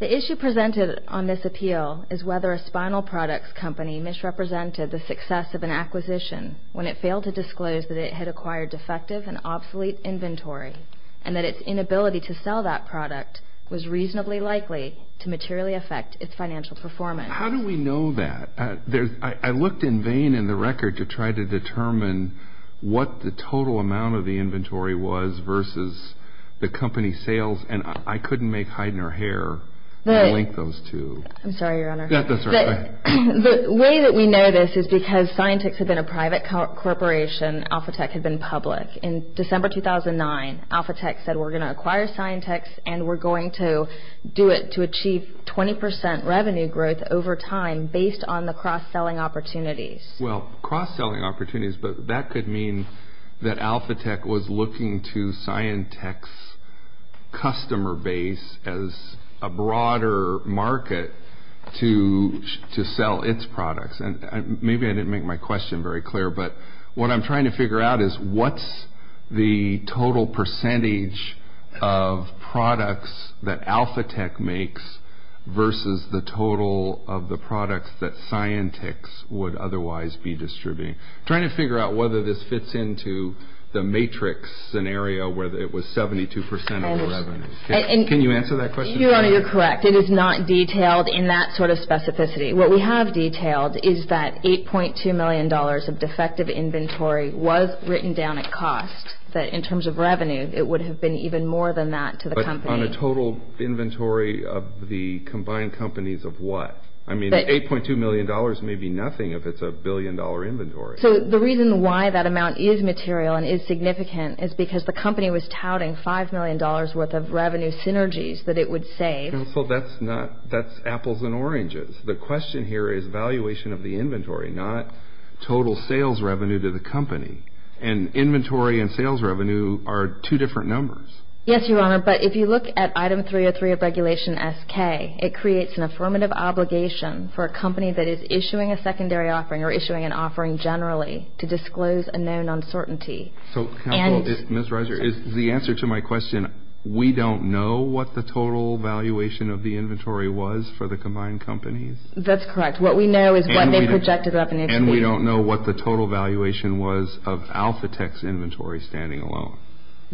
The issue presented on this appeal is whether a spinal products company misrepresented the success of an acquisition when it failed to disclose that it had acquired defective and and that its inability to sell that product was reasonably likely to materially affect its financial performance. How do we know that? I looked in vain in the record to try to determine what the total amount of the inventory was versus the company's sales, and I couldn't make Heidner hair to link those two. I'm sorry, Your Honor. That's all right. The way that we know this is because Scientix had been a private corporation, Alphatec had been public. In December 2009, Alphatec said we're going to acquire Scientix and we're going to do it to achieve 20 percent revenue growth over time based on the cross-selling opportunities. Well, cross-selling opportunities, but that could mean that Alphatec was looking to Scientix's customer base as a broader market to sell its products. And maybe I didn't make my question very clear, but what I'm trying to figure out is what's the total percentage of products that Alphatec makes versus the total of the products that Scientix would otherwise be distributing? Trying to figure out whether this fits into the matrix scenario where it was 72 percent of the revenue. Can you answer that question? Your Honor, you're correct. It is not detailed in that sort of specificity. What we have detailed is that $8.2 million of defective inventory was written down at cost, that in terms of revenue it would have been even more than that to the company. But on a total inventory of the combined companies of what? I mean, $8.2 million may be nothing if it's a billion-dollar inventory. So the reason why that amount is material and is significant is because the company was touting $5 million worth of revenue synergies that it would save. Counsel, that's apples and oranges. The question here is valuation of the inventory, not total sales revenue to the company. And inventory and sales revenue are two different numbers. Yes, Your Honor, but if you look at item 303 of Regulation SK, it creates an affirmative obligation for a company that is issuing a secondary offering or issuing an offering generally to disclose a known uncertainty. So, Counsel, Ms. Reiser, is the answer to my question, we don't know what the total valuation of the inventory was for the combined companies? That's correct. What we know is what they projected up initially. And we don't know what the total valuation was of AlphaTex inventory standing alone?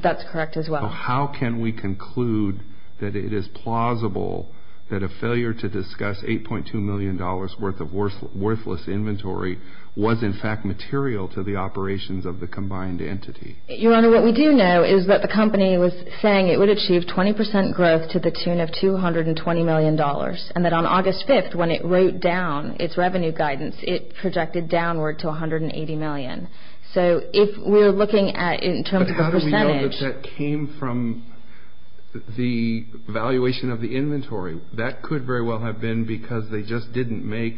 That's correct as well. So how can we conclude that it is plausible that a failure to discuss $8.2 million worth of worthless inventory was, in fact, material to the operations of the combined entity? Your Honor, what we do know is that the company was saying it would achieve 20% growth to the tune of $220 million and that on August 5th when it wrote down its revenue guidance, it projected downward to $180 million. So if we're looking at in terms of a percentage. But how do we know that that came from the valuation of the inventory? That could very well have been because they just didn't make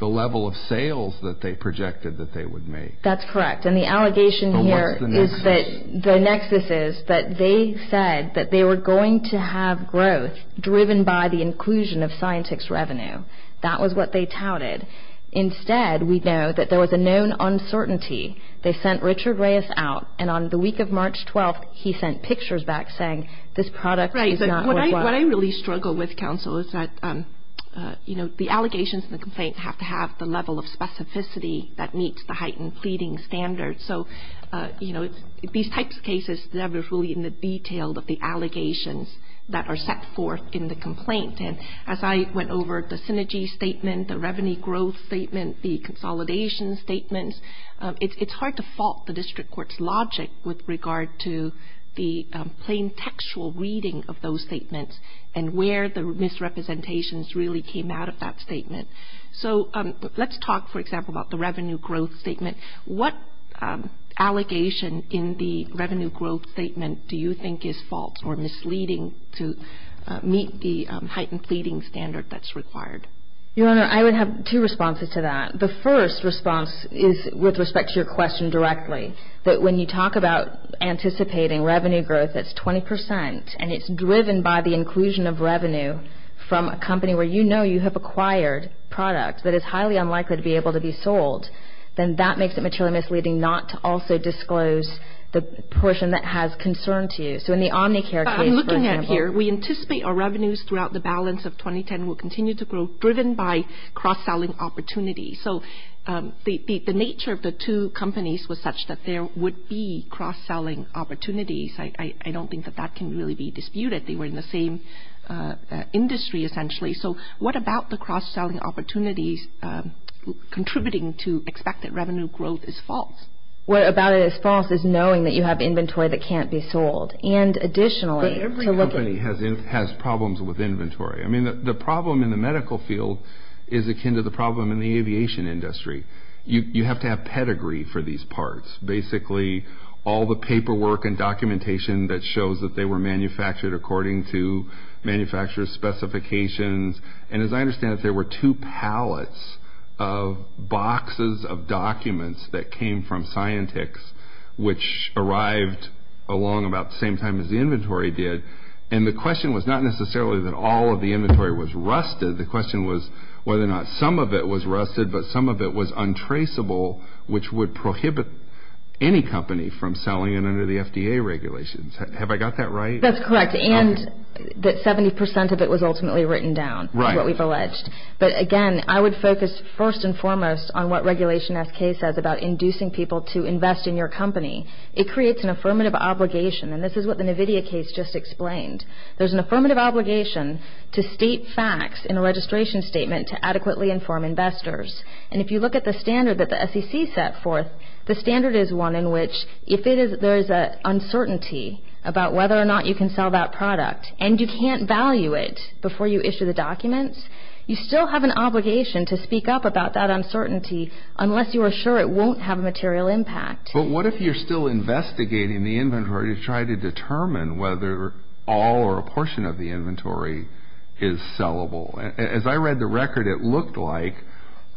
the level of sales that they projected that they would make. That's correct. And the allegation here is that the nexus is that they said that they were going to have growth driven by the inclusion of Scientix revenue. That was what they touted. Instead, we know that there was a known uncertainty. They sent Richard Reyes out and on the week of March 12th, he sent pictures back saying this product is not worthwhile. What I really struggle with, Counsel, is that, you know, the allegations and the complaints have to have the level of specificity that meets the heightened pleading standards. So, you know, these types of cases are really in the detail of the allegations that are set forth in the complaint. And as I went over the synergy statement, the revenue growth statement, the consolidation statements, it's hard to fault the district court's logic with regard to the plain textual reading of those statements and where the misrepresentations really came out of that statement. So let's talk, for example, about the revenue growth statement. What allegation in the revenue growth statement do you think is false or misleading to meet the heightened pleading standard that's required? Your Honor, I would have two responses to that. The first response is with respect to your question directly, that when you talk about anticipating revenue growth that's 20 percent and it's driven by the inclusion of revenue from a company where you know you have acquired products that is highly unlikely to be able to be sold, then that makes it materially misleading not to also disclose the portion that has concern to you. So in the Omnicare case, for example. What I'm looking at here, we anticipate our revenues throughout the balance of 2010 will continue to grow, driven by cross-selling opportunities. So the nature of the two companies was such that there would be cross-selling opportunities. I don't think that that can really be disputed. They were in the same industry, essentially. So what about the cross-selling opportunities contributing to expect that revenue growth is false? What about it is false is knowing that you have inventory that can't be sold. And additionally, to look at it. But every company has problems with inventory. I mean, the problem in the medical field is akin to the problem in the aviation industry. You have to have pedigree for these parts. Basically, all the paperwork and documentation that shows that they were manufactured according to manufacturer's specifications. And as I understand it, there were two pallets of boxes of documents that came from scientists which arrived along about the same time as the inventory did. And the question was not necessarily that all of the inventory was rusted. The question was whether or not some of it was rusted, but some of it was untraceable, which would prohibit any company from selling it under the FDA regulations. Have I got that right? That's correct. And that 70% of it was ultimately written down, is what we've alleged. But again, I would focus first and foremost on what Regulation SK says about inducing people to invest in your company. It creates an affirmative obligation. And this is what the NVIDIA case just explained. There's an affirmative obligation to state facts in a registration statement to adequately inform investors. And if you look at the standard that the SEC set forth, the standard is one in which if there is an uncertainty about whether or not you can sell that product and you can't value it before you issue the documents, you still have an obligation to speak up about that uncertainty unless you are sure it won't have a material impact. But what if you're still investigating the inventory to try to determine whether all or a portion of the inventory is sellable? As I read the record, it looked like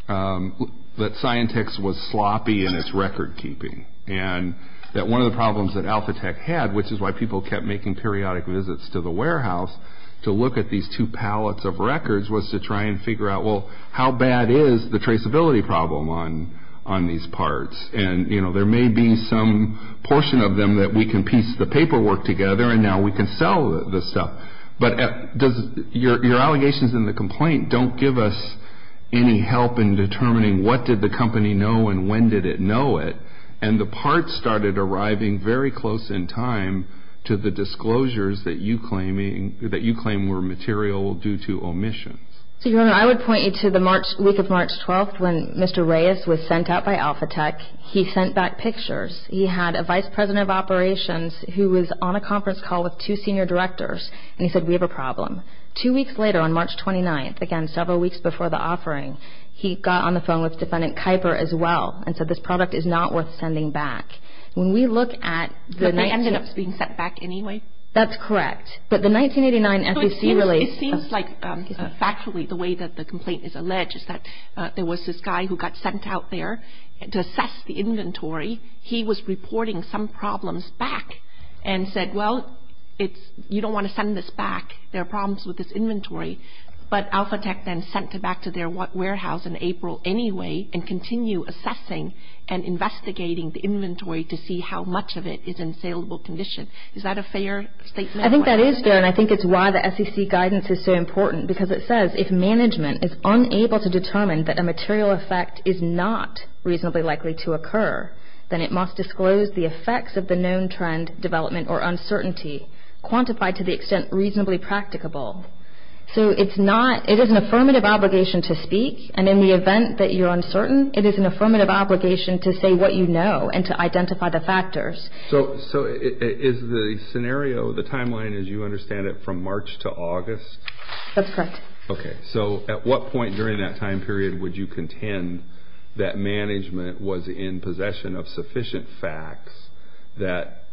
that Scientex was sloppy in its record keeping and that one of the problems that Alpha Tech had, which is why people kept making periodic visits to the warehouse, to look at these two pallets of records was to try and figure out, well, how bad is the traceability problem on these parts? And, you know, there may be some portion of them that we can piece the paperwork together and now we can sell the stuff. But your allegations in the complaint don't give us any help in determining what did the company know and when did it know it. And the parts started arriving very close in time to the disclosures that you claim were material due to omissions. So, Your Honor, I would point you to the week of March 12th when Mr. Reyes was sent out by Alpha Tech. He sent back pictures. He had a vice president of operations who was on a conference call with two senior directors and he said, we have a problem. Two weeks later, on March 29th, again, several weeks before the offering, he got on the phone with Defendant Kuyper as well and said, this product is not worth sending back. When we look at the 19... But they ended up being sent back anyway? That's correct. It seems like factually the way that the complaint is alleged is that there was this guy who got sent out there to assess the inventory. He was reporting some problems back and said, well, you don't want to send this back. There are problems with this inventory. But Alpha Tech then sent it back to their warehouse in April anyway and continue assessing and investigating the inventory to see how much of it is in saleable condition. Is that a fair statement? I think that is fair and I think it's why the SEC guidance is so important because it says if management is unable to determine that a material effect is not reasonably likely to occur, then it must disclose the effects of the known trend, development, or uncertainty quantified to the extent reasonably practicable. So it's not... It is an affirmative obligation to speak and in the event that you're uncertain, it is an affirmative obligation to say what you know and to identify the factors. So is the scenario, the timeline, as you understand it, from March to August? That's correct. Okay. So at what point during that time period would you contend that management was in possession of sufficient facts that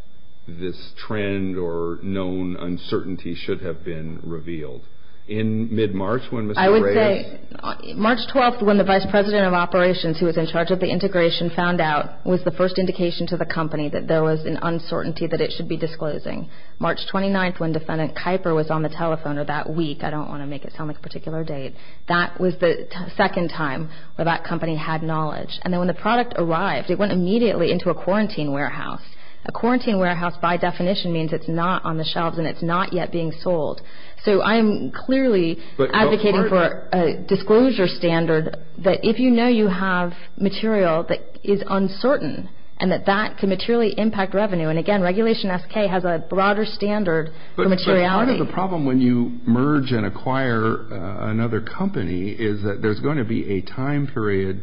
this trend or known uncertainty should have been revealed? In mid-March when Mr. Gray... I would say March 12th when the Vice President of Operations, who was in charge of the integration, found out was the first indication to the company that there was an uncertainty that it should be disclosing. March 29th when Defendant Kuyper was on the telephone or that week. I don't want to make it sound like a particular date. That was the second time where that company had knowledge. And then when the product arrived, it went immediately into a quarantine warehouse. A quarantine warehouse by definition means it's not on the shelves and it's not yet being sold. So I am clearly advocating for a disclosure standard that if you know you have material that is uncertain and that that can materially impact revenue. And again, Regulation SK has a broader standard for materiality. But part of the problem when you merge and acquire another company is that there's going to be a time period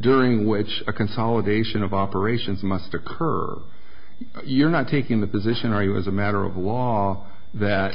during which a consolidation of operations must occur. You're not taking the position, are you, as a matter of law that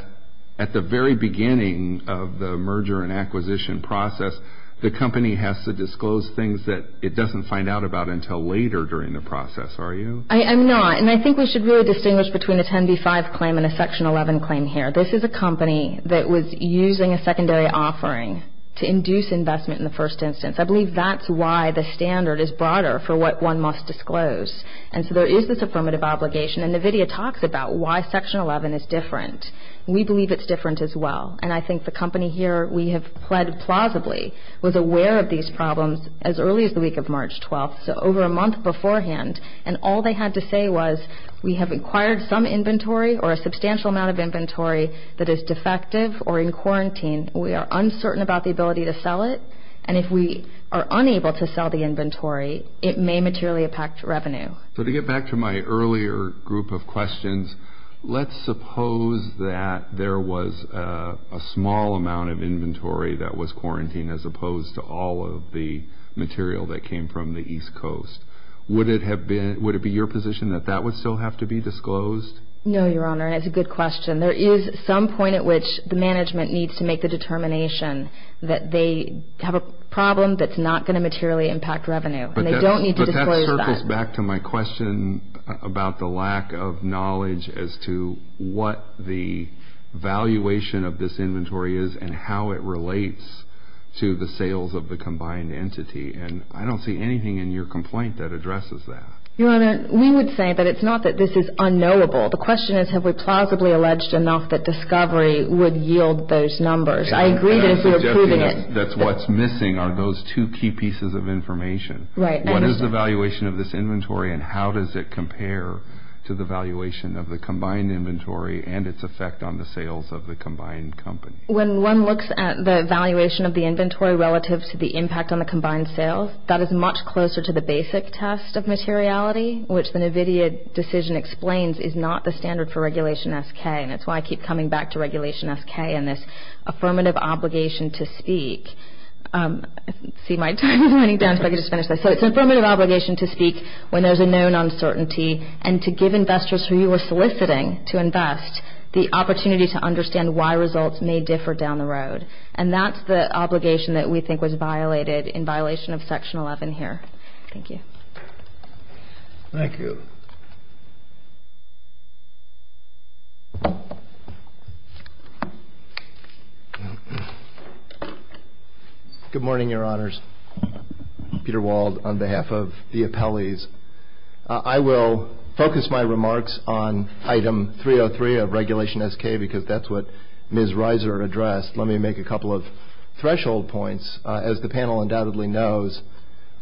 at the very beginning of the merger and acquisition process the company has to disclose things that it doesn't find out about until later during the process, are you? I'm not. And I think we should really distinguish between a 10b-5 claim and a Section 11 claim here. This is a company that was using a secondary offering to induce investment in the first instance. I believe that's why the standard is broader for what one must disclose. And so there is this affirmative obligation. And NVIDIA talks about why Section 11 is different. We believe it's different as well. And I think the company here we have pled plausibly was aware of these problems as early as the week of March 12th, so over a month beforehand. And all they had to say was we have acquired some inventory or a substantial amount of inventory that is defective or in quarantine. We are uncertain about the ability to sell it. And if we are unable to sell the inventory, it may materially impact revenue. So to get back to my earlier group of questions, let's suppose that there was a small amount of inventory that was quarantined as opposed to all of the material that came from the East Coast. Would it be your position that that would still have to be disclosed? No, Your Honor, and it's a good question. There is some point at which the management needs to make the determination that they have a problem that's not going to materially impact revenue. And they don't need to disclose that. It goes back to my question about the lack of knowledge as to what the valuation of this inventory is and how it relates to the sales of the combined entity. And I don't see anything in your complaint that addresses that. Your Honor, we would say that it's not that this is unknowable. The question is have we plausibly alleged enough that discovery would yield those numbers. I agree that we are proving it. That's what's missing are those two key pieces of information. What is the valuation of this inventory, and how does it compare to the valuation of the combined inventory and its effect on the sales of the combined company? When one looks at the valuation of the inventory relative to the impact on the combined sales, that is much closer to the basic test of materiality, which the NVIDIA decision explains is not the standard for Regulation SK. And that's why I keep coming back to Regulation SK and this affirmative obligation to speak. I see my time is running down so I can just finish this. So it's an affirmative obligation to speak when there's a known uncertainty and to give investors who you are soliciting to invest the opportunity to understand why results may differ down the road. And that's the obligation that we think was violated in violation of Section 11 here. Thank you. Thank you. Good morning, Your Honors. Peter Wald on behalf of the appellees. I will focus my remarks on Item 303 of Regulation SK because that's what Ms. Reiser addressed. Let me make a couple of threshold points. As the panel undoubtedly knows,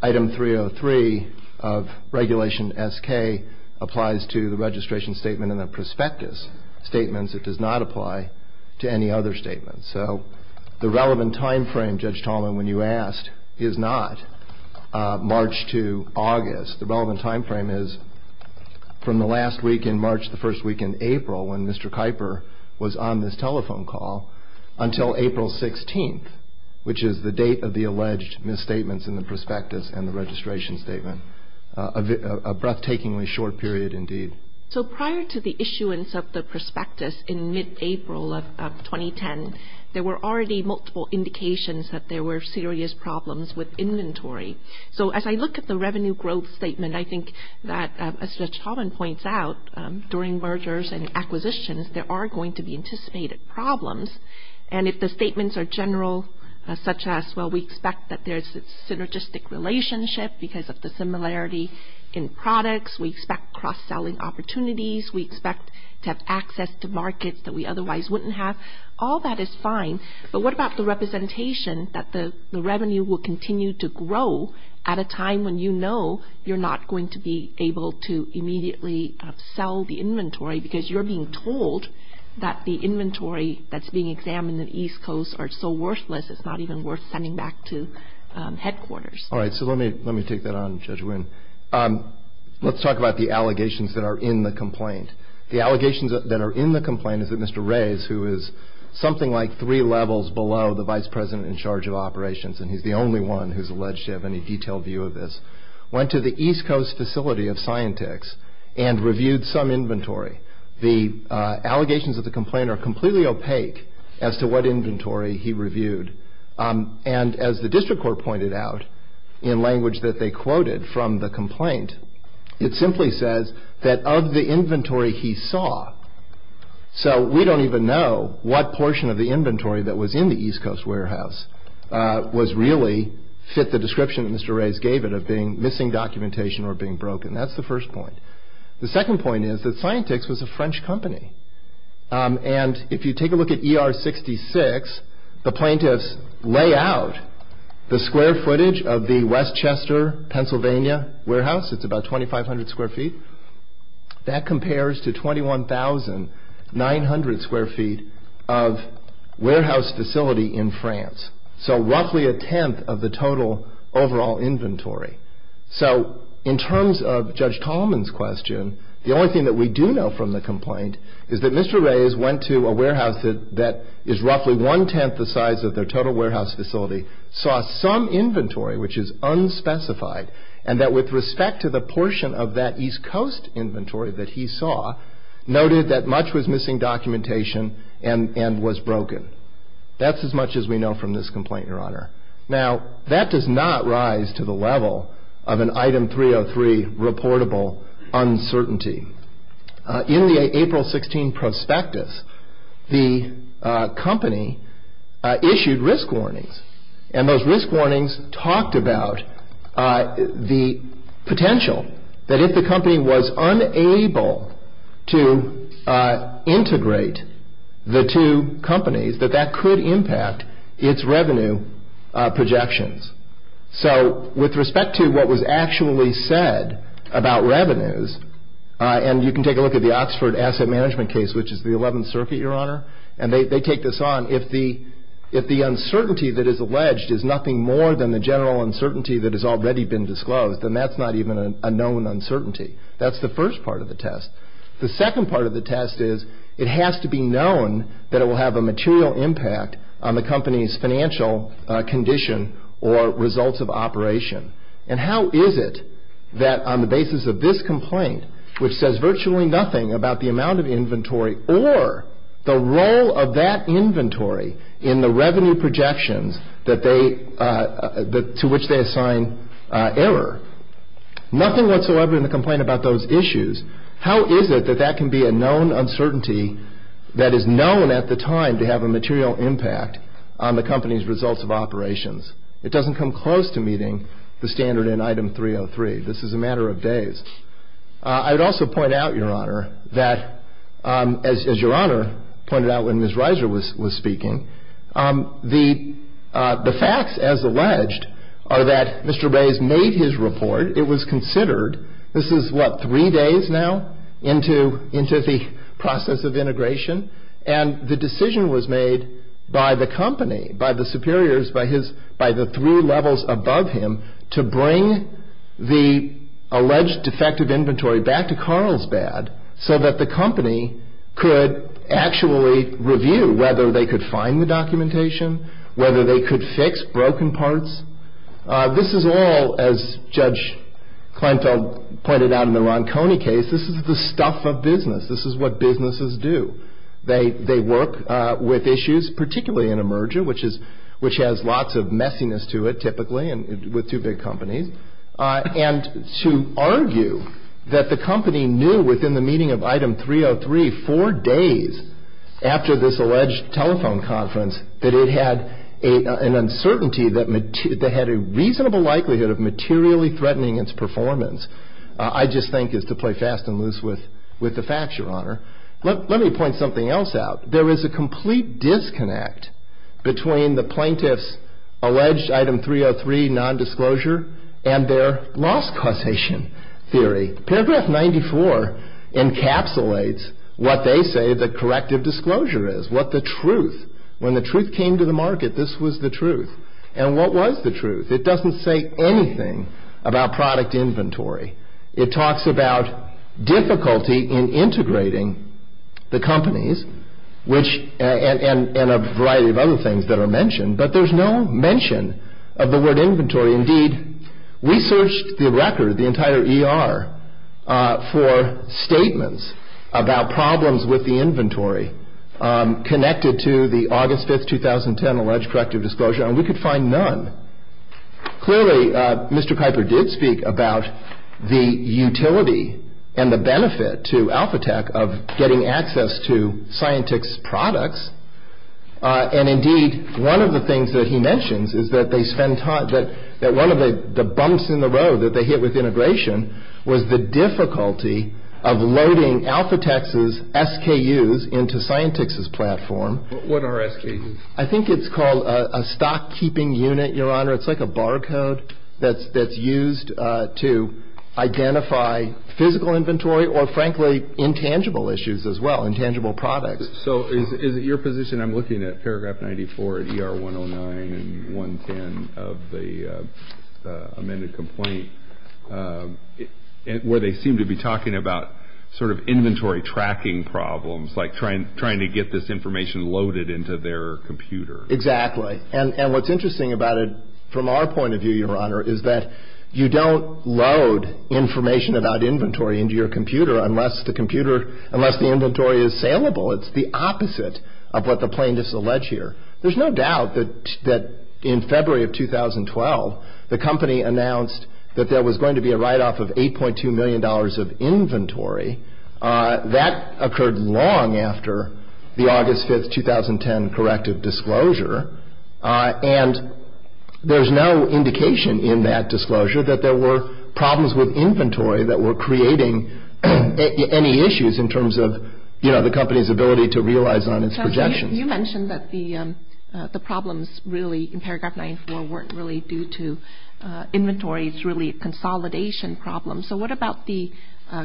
Item 303 of Regulation SK applies to the registration statement and the prospectus statements. It does not apply to any other statements. So the relevant time frame, Judge Tallman, when you asked, is not March to August. The relevant time frame is from the last week in March to the first week in April when Mr. Kuiper was on this telephone call until April 16th, which is the date of the alleged misstatements in the prospectus and the registration statement. A breathtakingly short period indeed. So prior to the issuance of the prospectus in mid-April of 2010, there were already multiple indications that there were serious problems with inventory. So as I look at the revenue growth statement, I think that, as Judge Tallman points out, during mergers and acquisitions, there are going to be anticipated problems. And if the statements are general, such as, well, we expect that there's a synergistic relationship because of the similarity in products, we expect cross-selling opportunities, we expect to have access to markets that we otherwise wouldn't have, all that is fine. But what about the representation that the revenue will continue to grow at a time when you know you're not going to be able to immediately sell the inventory because you're being told that the inventory that's being examined in East Coast are so worthless, it's not even worth sending back to headquarters. All right. So let me take that on, Judge Winn. Let's talk about the allegations that are in the complaint. The allegations that are in the complaint is that Mr. Reyes, who is something like three levels below the vice president in charge of operations, and he's the only one who's alleged to have any detailed view of this, went to the East Coast facility of Scientix and reviewed some inventory. The allegations of the complaint are completely opaque as to what inventory he reviewed. And as the district court pointed out in language that they quoted from the complaint, it simply says that of the inventory he saw, so we don't even know what portion of the inventory that was in the East Coast warehouse was really fit the description that Mr. Reyes gave it of being missing documentation or being broken. That's the first point. The second point is that Scientix was a French company. And if you take a look at ER 66, the plaintiffs lay out the square footage of the Westchester, Pennsylvania warehouse. It's about 2,500 square feet. That compares to 21,900 square feet of warehouse facility in France, so roughly a tenth of the total overall inventory. So in terms of Judge Tallman's question, the only thing that we do know from the complaint is that Mr. Reyes went to a warehouse that is roughly one-tenth the size of their total warehouse facility, saw some inventory which is unspecified, and that with respect to the portion of that East Coast inventory that he saw, noted that much was missing documentation and was broken. That's as much as we know from this complaint, Your Honor. Now, that does not rise to the level of an Item 303 reportable uncertainty. In the April 16 prospectus, the company issued risk warnings, and those risk warnings talked about the potential that if the company was unable to integrate the two companies, that that could impact its revenue projections. So with respect to what was actually said about revenues, and you can take a look at the Oxford Asset Management case, which is the 11th Circuit, Your Honor, and they take this on, if the uncertainty that is alleged is nothing more than the general uncertainty that has already been disclosed, then that's not even a known uncertainty. That's the first part of the test. The second part of the test is it has to be known that it will have a material impact on the company's financial condition or results of operation. And how is it that on the basis of this complaint, which says virtually nothing about the amount of inventory or the role of that inventory in the revenue projections to which they assign error, nothing whatsoever in the complaint about those issues, how is it that that can be a known uncertainty that is known at the time to have a material impact on the company's results of operations? It doesn't come close to meeting the standard in Item 303. This is a matter of days. I would also point out, Your Honor, that as Your Honor pointed out when Ms. Reiser was speaking, the facts, as alleged, are that Mr. Reyes made his report. It was considered. This is, what, three days now into the process of integration? And the decision was made by the company, by the superiors, by the three levels above him, to bring the alleged defective inventory back to Carlsbad so that the company could actually review whether they could find the documentation, whether they could fix broken parts. This is all, as Judge Kleinfeld pointed out in the Ronconi case, this is the stuff of business. This is what businesses do. They work with issues, particularly in a merger, which has lots of messiness to it, typically with two big companies, and to argue that the company knew within the meeting of Item 303 four days after this alleged telephone conference that it had an uncertainty that had a reasonable likelihood of materially threatening its performance, I just think is to play fast and loose with the facts, Your Honor. Let me point something else out. There is a complete disconnect between the plaintiff's alleged Item 303 nondisclosure and their loss causation theory. Paragraph 94 encapsulates what they say the corrective disclosure is, what the truth, when the truth came to the market, this was the truth. And what was the truth? It doesn't say anything about product inventory. It talks about difficulty in integrating the companies, and a variety of other things that are mentioned, but there's no mention of the word inventory. Indeed, we searched the record, the entire ER, for statements about problems with the inventory connected to the August 5th, 2010, alleged corrective disclosure, and we could find none. Clearly, Mr. Piper did speak about the utility and the benefit to AlphaTec of getting access to Scientix products, and indeed, one of the things that he mentions is that they spend time, that one of the bumps in the road that they hit with integration was the difficulty of loading AlphaTec's SKUs into Scientix's platform. What are SKUs? I think it's called a stock-keeping unit, Your Honor. It's like a bar code that's used to identify physical inventory or, frankly, intangible issues as well, intangible products. So is it your position, I'm looking at paragraph 94 of ER 109 and 110 of the amended complaint, where they seem to be talking about sort of inventory tracking problems, like trying to get this information loaded into their computer? Exactly, and what's interesting about it from our point of view, Your Honor, is that you don't load information about inventory into your computer unless the inventory is saleable. It's the opposite of what the plaintiffs allege here. There's no doubt that in February of 2012, the company announced that there was going to be a write-off of $8.2 million of inventory. That occurred long after the August 5, 2010 corrective disclosure, and there's no indication in that disclosure that there were problems with inventory that were creating any issues in terms of the company's ability to realize on its projections. You mentioned that the problems really in paragraph 94 weren't really due to inventory. It's really a consolidation problem. So what about the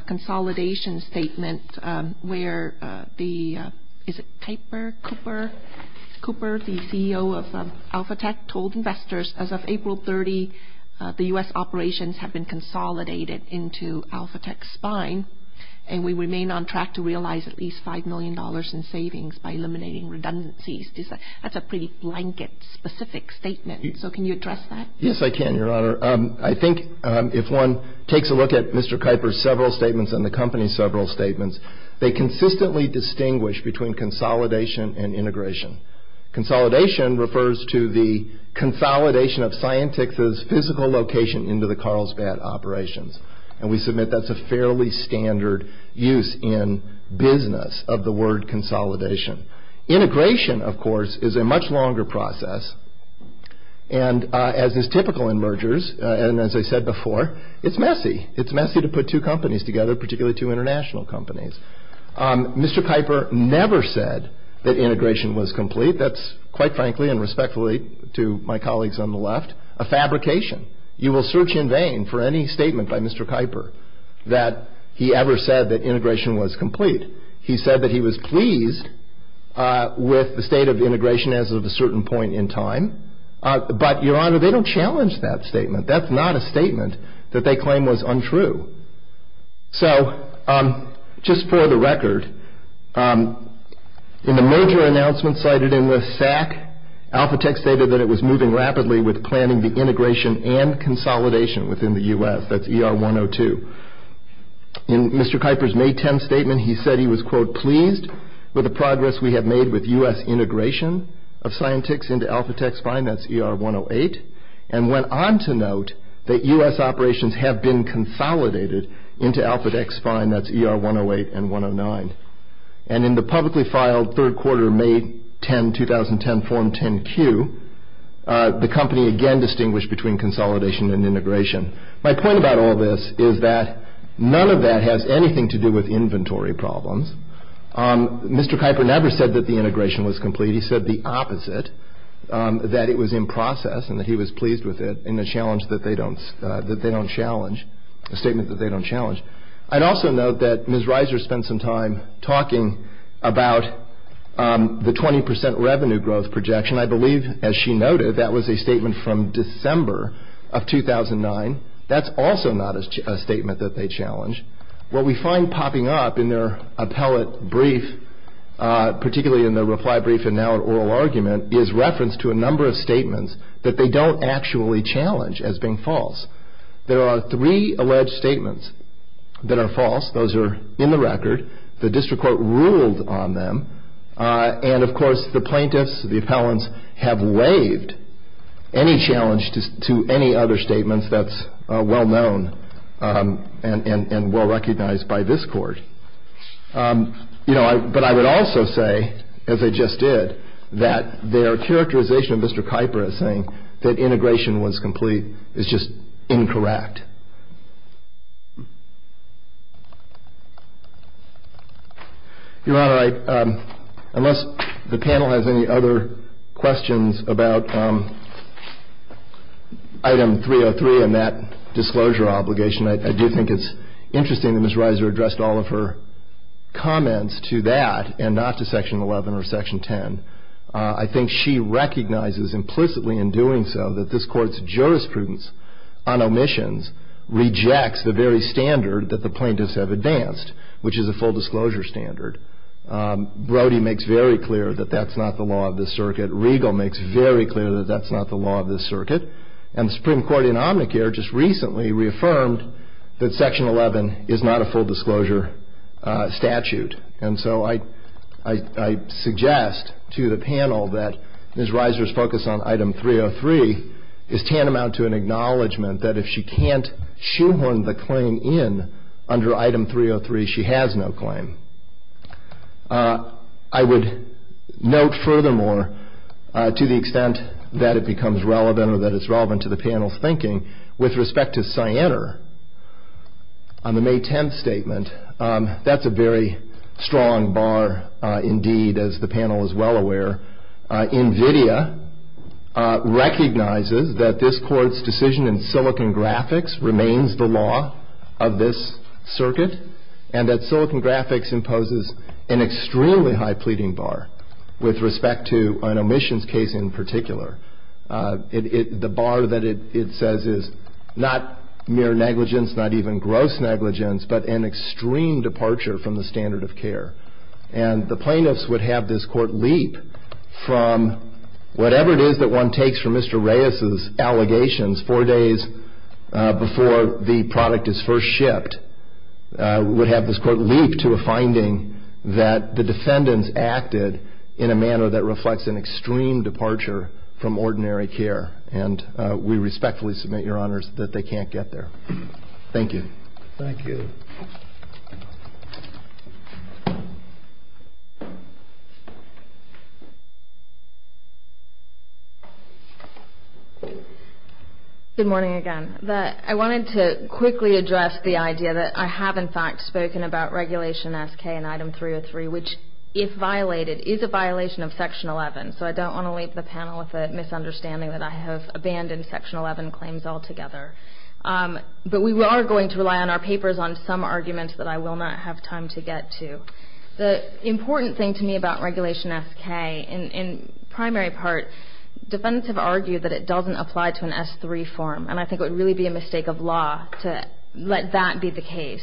consolidation statement where the, is it Kuiper, Cooper? Cooper, the CEO of Alpha Tech, told investors, as of April 30, the U.S. operations have been consolidated into Alpha Tech's spine, and we remain on track to realize at least $5 million in savings by eliminating redundancies. That's a pretty blanket, specific statement, so can you address that? Yes, I can, Your Honor. I think if one takes a look at Mr. Kuiper's several statements and the company's several statements, they consistently distinguish between consolidation and integration. Consolidation refers to the consolidation of Scientix's physical location into the Carlsbad operations, and we submit that's a fairly standard use in business of the word consolidation. Integration, of course, is a much longer process, and as is typical in mergers, and as I said before, it's messy. It's messy to put two companies together, particularly two international companies. Mr. Kuiper never said that integration was complete. That's, quite frankly and respectfully to my colleagues on the left, a fabrication. You will search in vain for any statement by Mr. Kuiper that he ever said that integration was complete. He said that he was pleased with the state of integration as of a certain point in time, but, Your Honor, they don't challenge that statement. That's not a statement that they claim was untrue. So, just for the record, in the major announcement cited in the SAC, Alphatext stated that it was moving rapidly with planning the integration and consolidation within the U.S. That's ER 102. In Mr. Kuiper's May 10 statement, he said he was, quote, pleased with the progress we have made with U.S. integration of Scientix into Alphatext's finance, ER 108, and went on to note that U.S. operations have been consolidated into Alphatext's finance, ER 108 and 109. And in the publicly filed third quarter May 10, 2010, form 10-Q, the company again distinguished between consolidation and integration. My point about all this is that none of that has anything to do with inventory problems. Mr. Kuiper never said that the integration was complete. He said the opposite, that it was in process and that he was pleased with it in a statement that they don't challenge. I'd also note that Ms. Reiser spent some time talking about the 20 percent revenue growth projection. I believe, as she noted, that was a statement from December of 2009. That's also not a statement that they challenge. What we find popping up in their appellate brief, particularly in the reply brief and now in oral argument, is reference to a number of statements that they don't actually challenge as being false. There are three alleged statements that are false. Those are in the record. The district court ruled on them. And, of course, the plaintiffs, the appellants, have waived any challenge to any other statements that's well known and well recognized by this Court. You know, but I would also say, as I just did, that their characterization of Mr. Kuiper as saying that integration was complete is just incorrect. Your Honor, unless the panel has any other questions about Item 303 and that disclosure obligation, I do think it's interesting that Ms. Reiser addressed all of her comments to that and not to Section 11 or Section 10. I think she recognizes implicitly in doing so that this Court's jurisprudence on omissions rejects the very standard that the plaintiffs have advanced, which is a full disclosure standard. Brody makes very clear that that's not the law of this circuit. Riegel makes very clear that that's not the law of this circuit. And the Supreme Court in Omnicare just recently reaffirmed that Section 11 is not a full disclosure statute. And so I suggest to the panel that Ms. Reiser's focus on Item 303 is tantamount to an acknowledgement that if she can't shoehorn the claim in under Item 303, she has no claim. I would note, furthermore, to the extent that it becomes relevant or that it's relevant to the panel's thinking, with respect to Sienner on the May 10th statement, that's a very strong bar indeed, as the panel is well aware. NVIDIA recognizes that this Court's decision in Silicon Graphics remains the law of this circuit and that Silicon Graphics imposes an extremely high pleading bar with respect to an omissions case in particular. The bar that it says is not mere negligence, not even gross negligence, but an extreme departure from the standard of care. And the plaintiffs would have this Court leap from whatever it is that one takes from Mr. Reiser's allegations four days before the product is first shipped, would have this Court leap to a finding that the defendants acted in a manner that reflects an extreme departure from ordinary care. And we respectfully submit, Your Honors, that they can't get there. Thank you. Thank you. Good morning again. I wanted to quickly address the idea that I have, in fact, spoken about Regulation SK and Item 303, which, if violated, is a violation of Section 11. So I don't want to leave the panel with the misunderstanding that I have abandoned Section 11 claims altogether. But we are going to rely on our papers on some arguments that I will not have time to get to. The important thing to me about Regulation SK, in primary part, defendants have argued that it doesn't apply to an S3 form, and I think it would really be a mistake of law to let that be the case.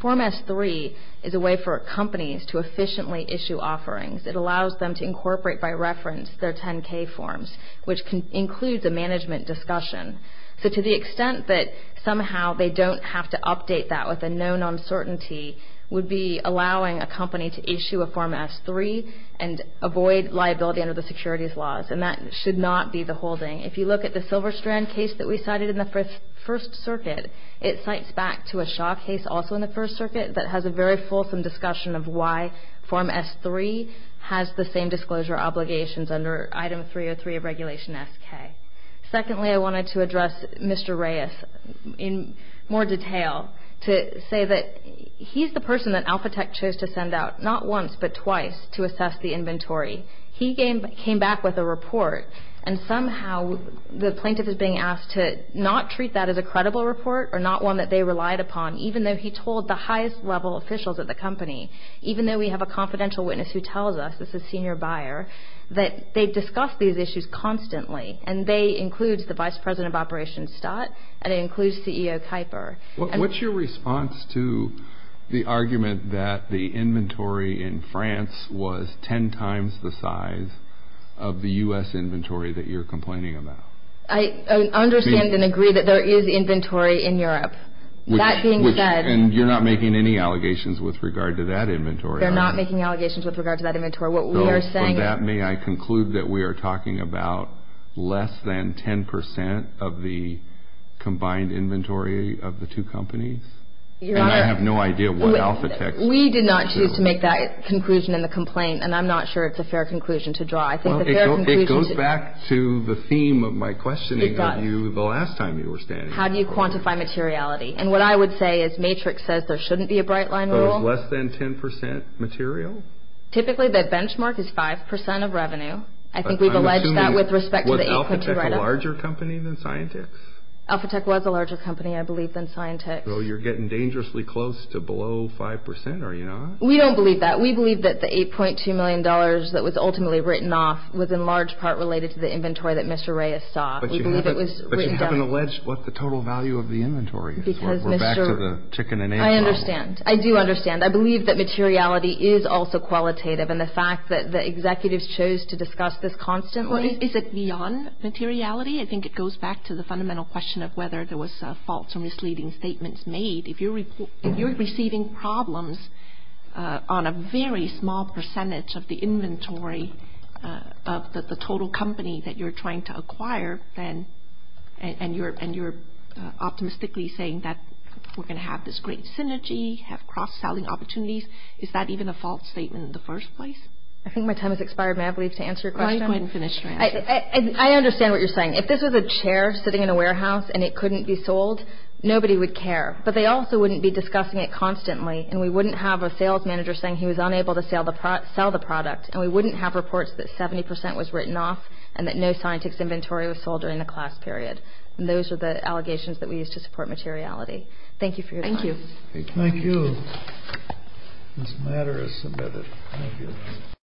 Form S3 is a way for companies to efficiently issue offerings. It allows them to incorporate by reference their 10-K forms, which includes a management discussion. So to the extent that somehow they don't have to update that with a known uncertainty would be allowing a company to issue a Form S3 and avoid liability under the securities laws, and that should not be the holding. If you look at the Silverstrand case that we cited in the First Circuit, it cites back to a Shaw case, also in the First Circuit, that has a very fulsome discussion of why Form S3 has the same disclosure obligations under Item 303 of Regulation SK. Secondly, I wanted to address Mr. Reyes in more detail to say that he's the person that Alpha Tech chose to send out, not once but twice, to assess the inventory. He came back with a report, and somehow the plaintiff is being asked to not treat that as a credible report or not one that they relied upon, even though he told the highest-level officials at the company, even though we have a confidential witness who tells us, this is senior buyer, that they discuss these issues constantly, and they include the Vice President of Operations Stott, and it includes CEO Kuiper. What's your response to the argument that the inventory in France was ten times the size of the U.S. inventory that you're complaining about? I understand and agree that there is inventory in Europe. That being said... And you're not making any allegations with regard to that inventory, are you? We are not making allegations with regard to that inventory. What we are saying is... For that, may I conclude that we are talking about less than ten percent of the combined inventory of the two companies? Your Honor... And I have no idea what Alpha Tech... We did not choose to make that conclusion in the complaint, and I'm not sure it's a fair conclusion to draw. I think the fair conclusion... It goes back to the theme of my questioning of you the last time you were standing here. How do you quantify materiality? And what I would say is Matrix says there shouldn't be a bright-line rule. So it's less than ten percent material? Typically, the benchmark is five percent of revenue. I think we've alleged that with respect to the 8.2 write-up. Was Alpha Tech a larger company than Scientix? Alpha Tech was a larger company, I believe, than Scientix. So you're getting dangerously close to below five percent, are you not? We don't believe that. We believe that the $8.2 million that was ultimately written off was in large part related to the inventory that Mr. Reyes saw. But you haven't alleged what the total value of the inventory is. We're back to the chicken and egg problem. I understand. I do understand. I believe that materiality is also qualitative. And the fact that the executives chose to discuss this constantly... Is it beyond materiality? I think it goes back to the fundamental question of whether there was false or misleading statements made. If you're receiving problems on a very small percentage of the inventory of the total company that you're trying to acquire, and you're optimistically saying that we're going to have this great synergy, have cross-selling opportunities, is that even a false statement in the first place? I think my time has expired. May I please answer your question? Go ahead and finish your answer. I understand what you're saying. If this was a chair sitting in a warehouse and it couldn't be sold, nobody would care. But they also wouldn't be discussing it constantly, and we wouldn't have a sales manager saying he was unable to sell the product, and we wouldn't have reports that 70% was written off and that no scientific inventory was sold during the class period. And those are the allegations that we use to support materiality. Thank you for your time. Thank you. Thank you. This matter is submitted. Thank you.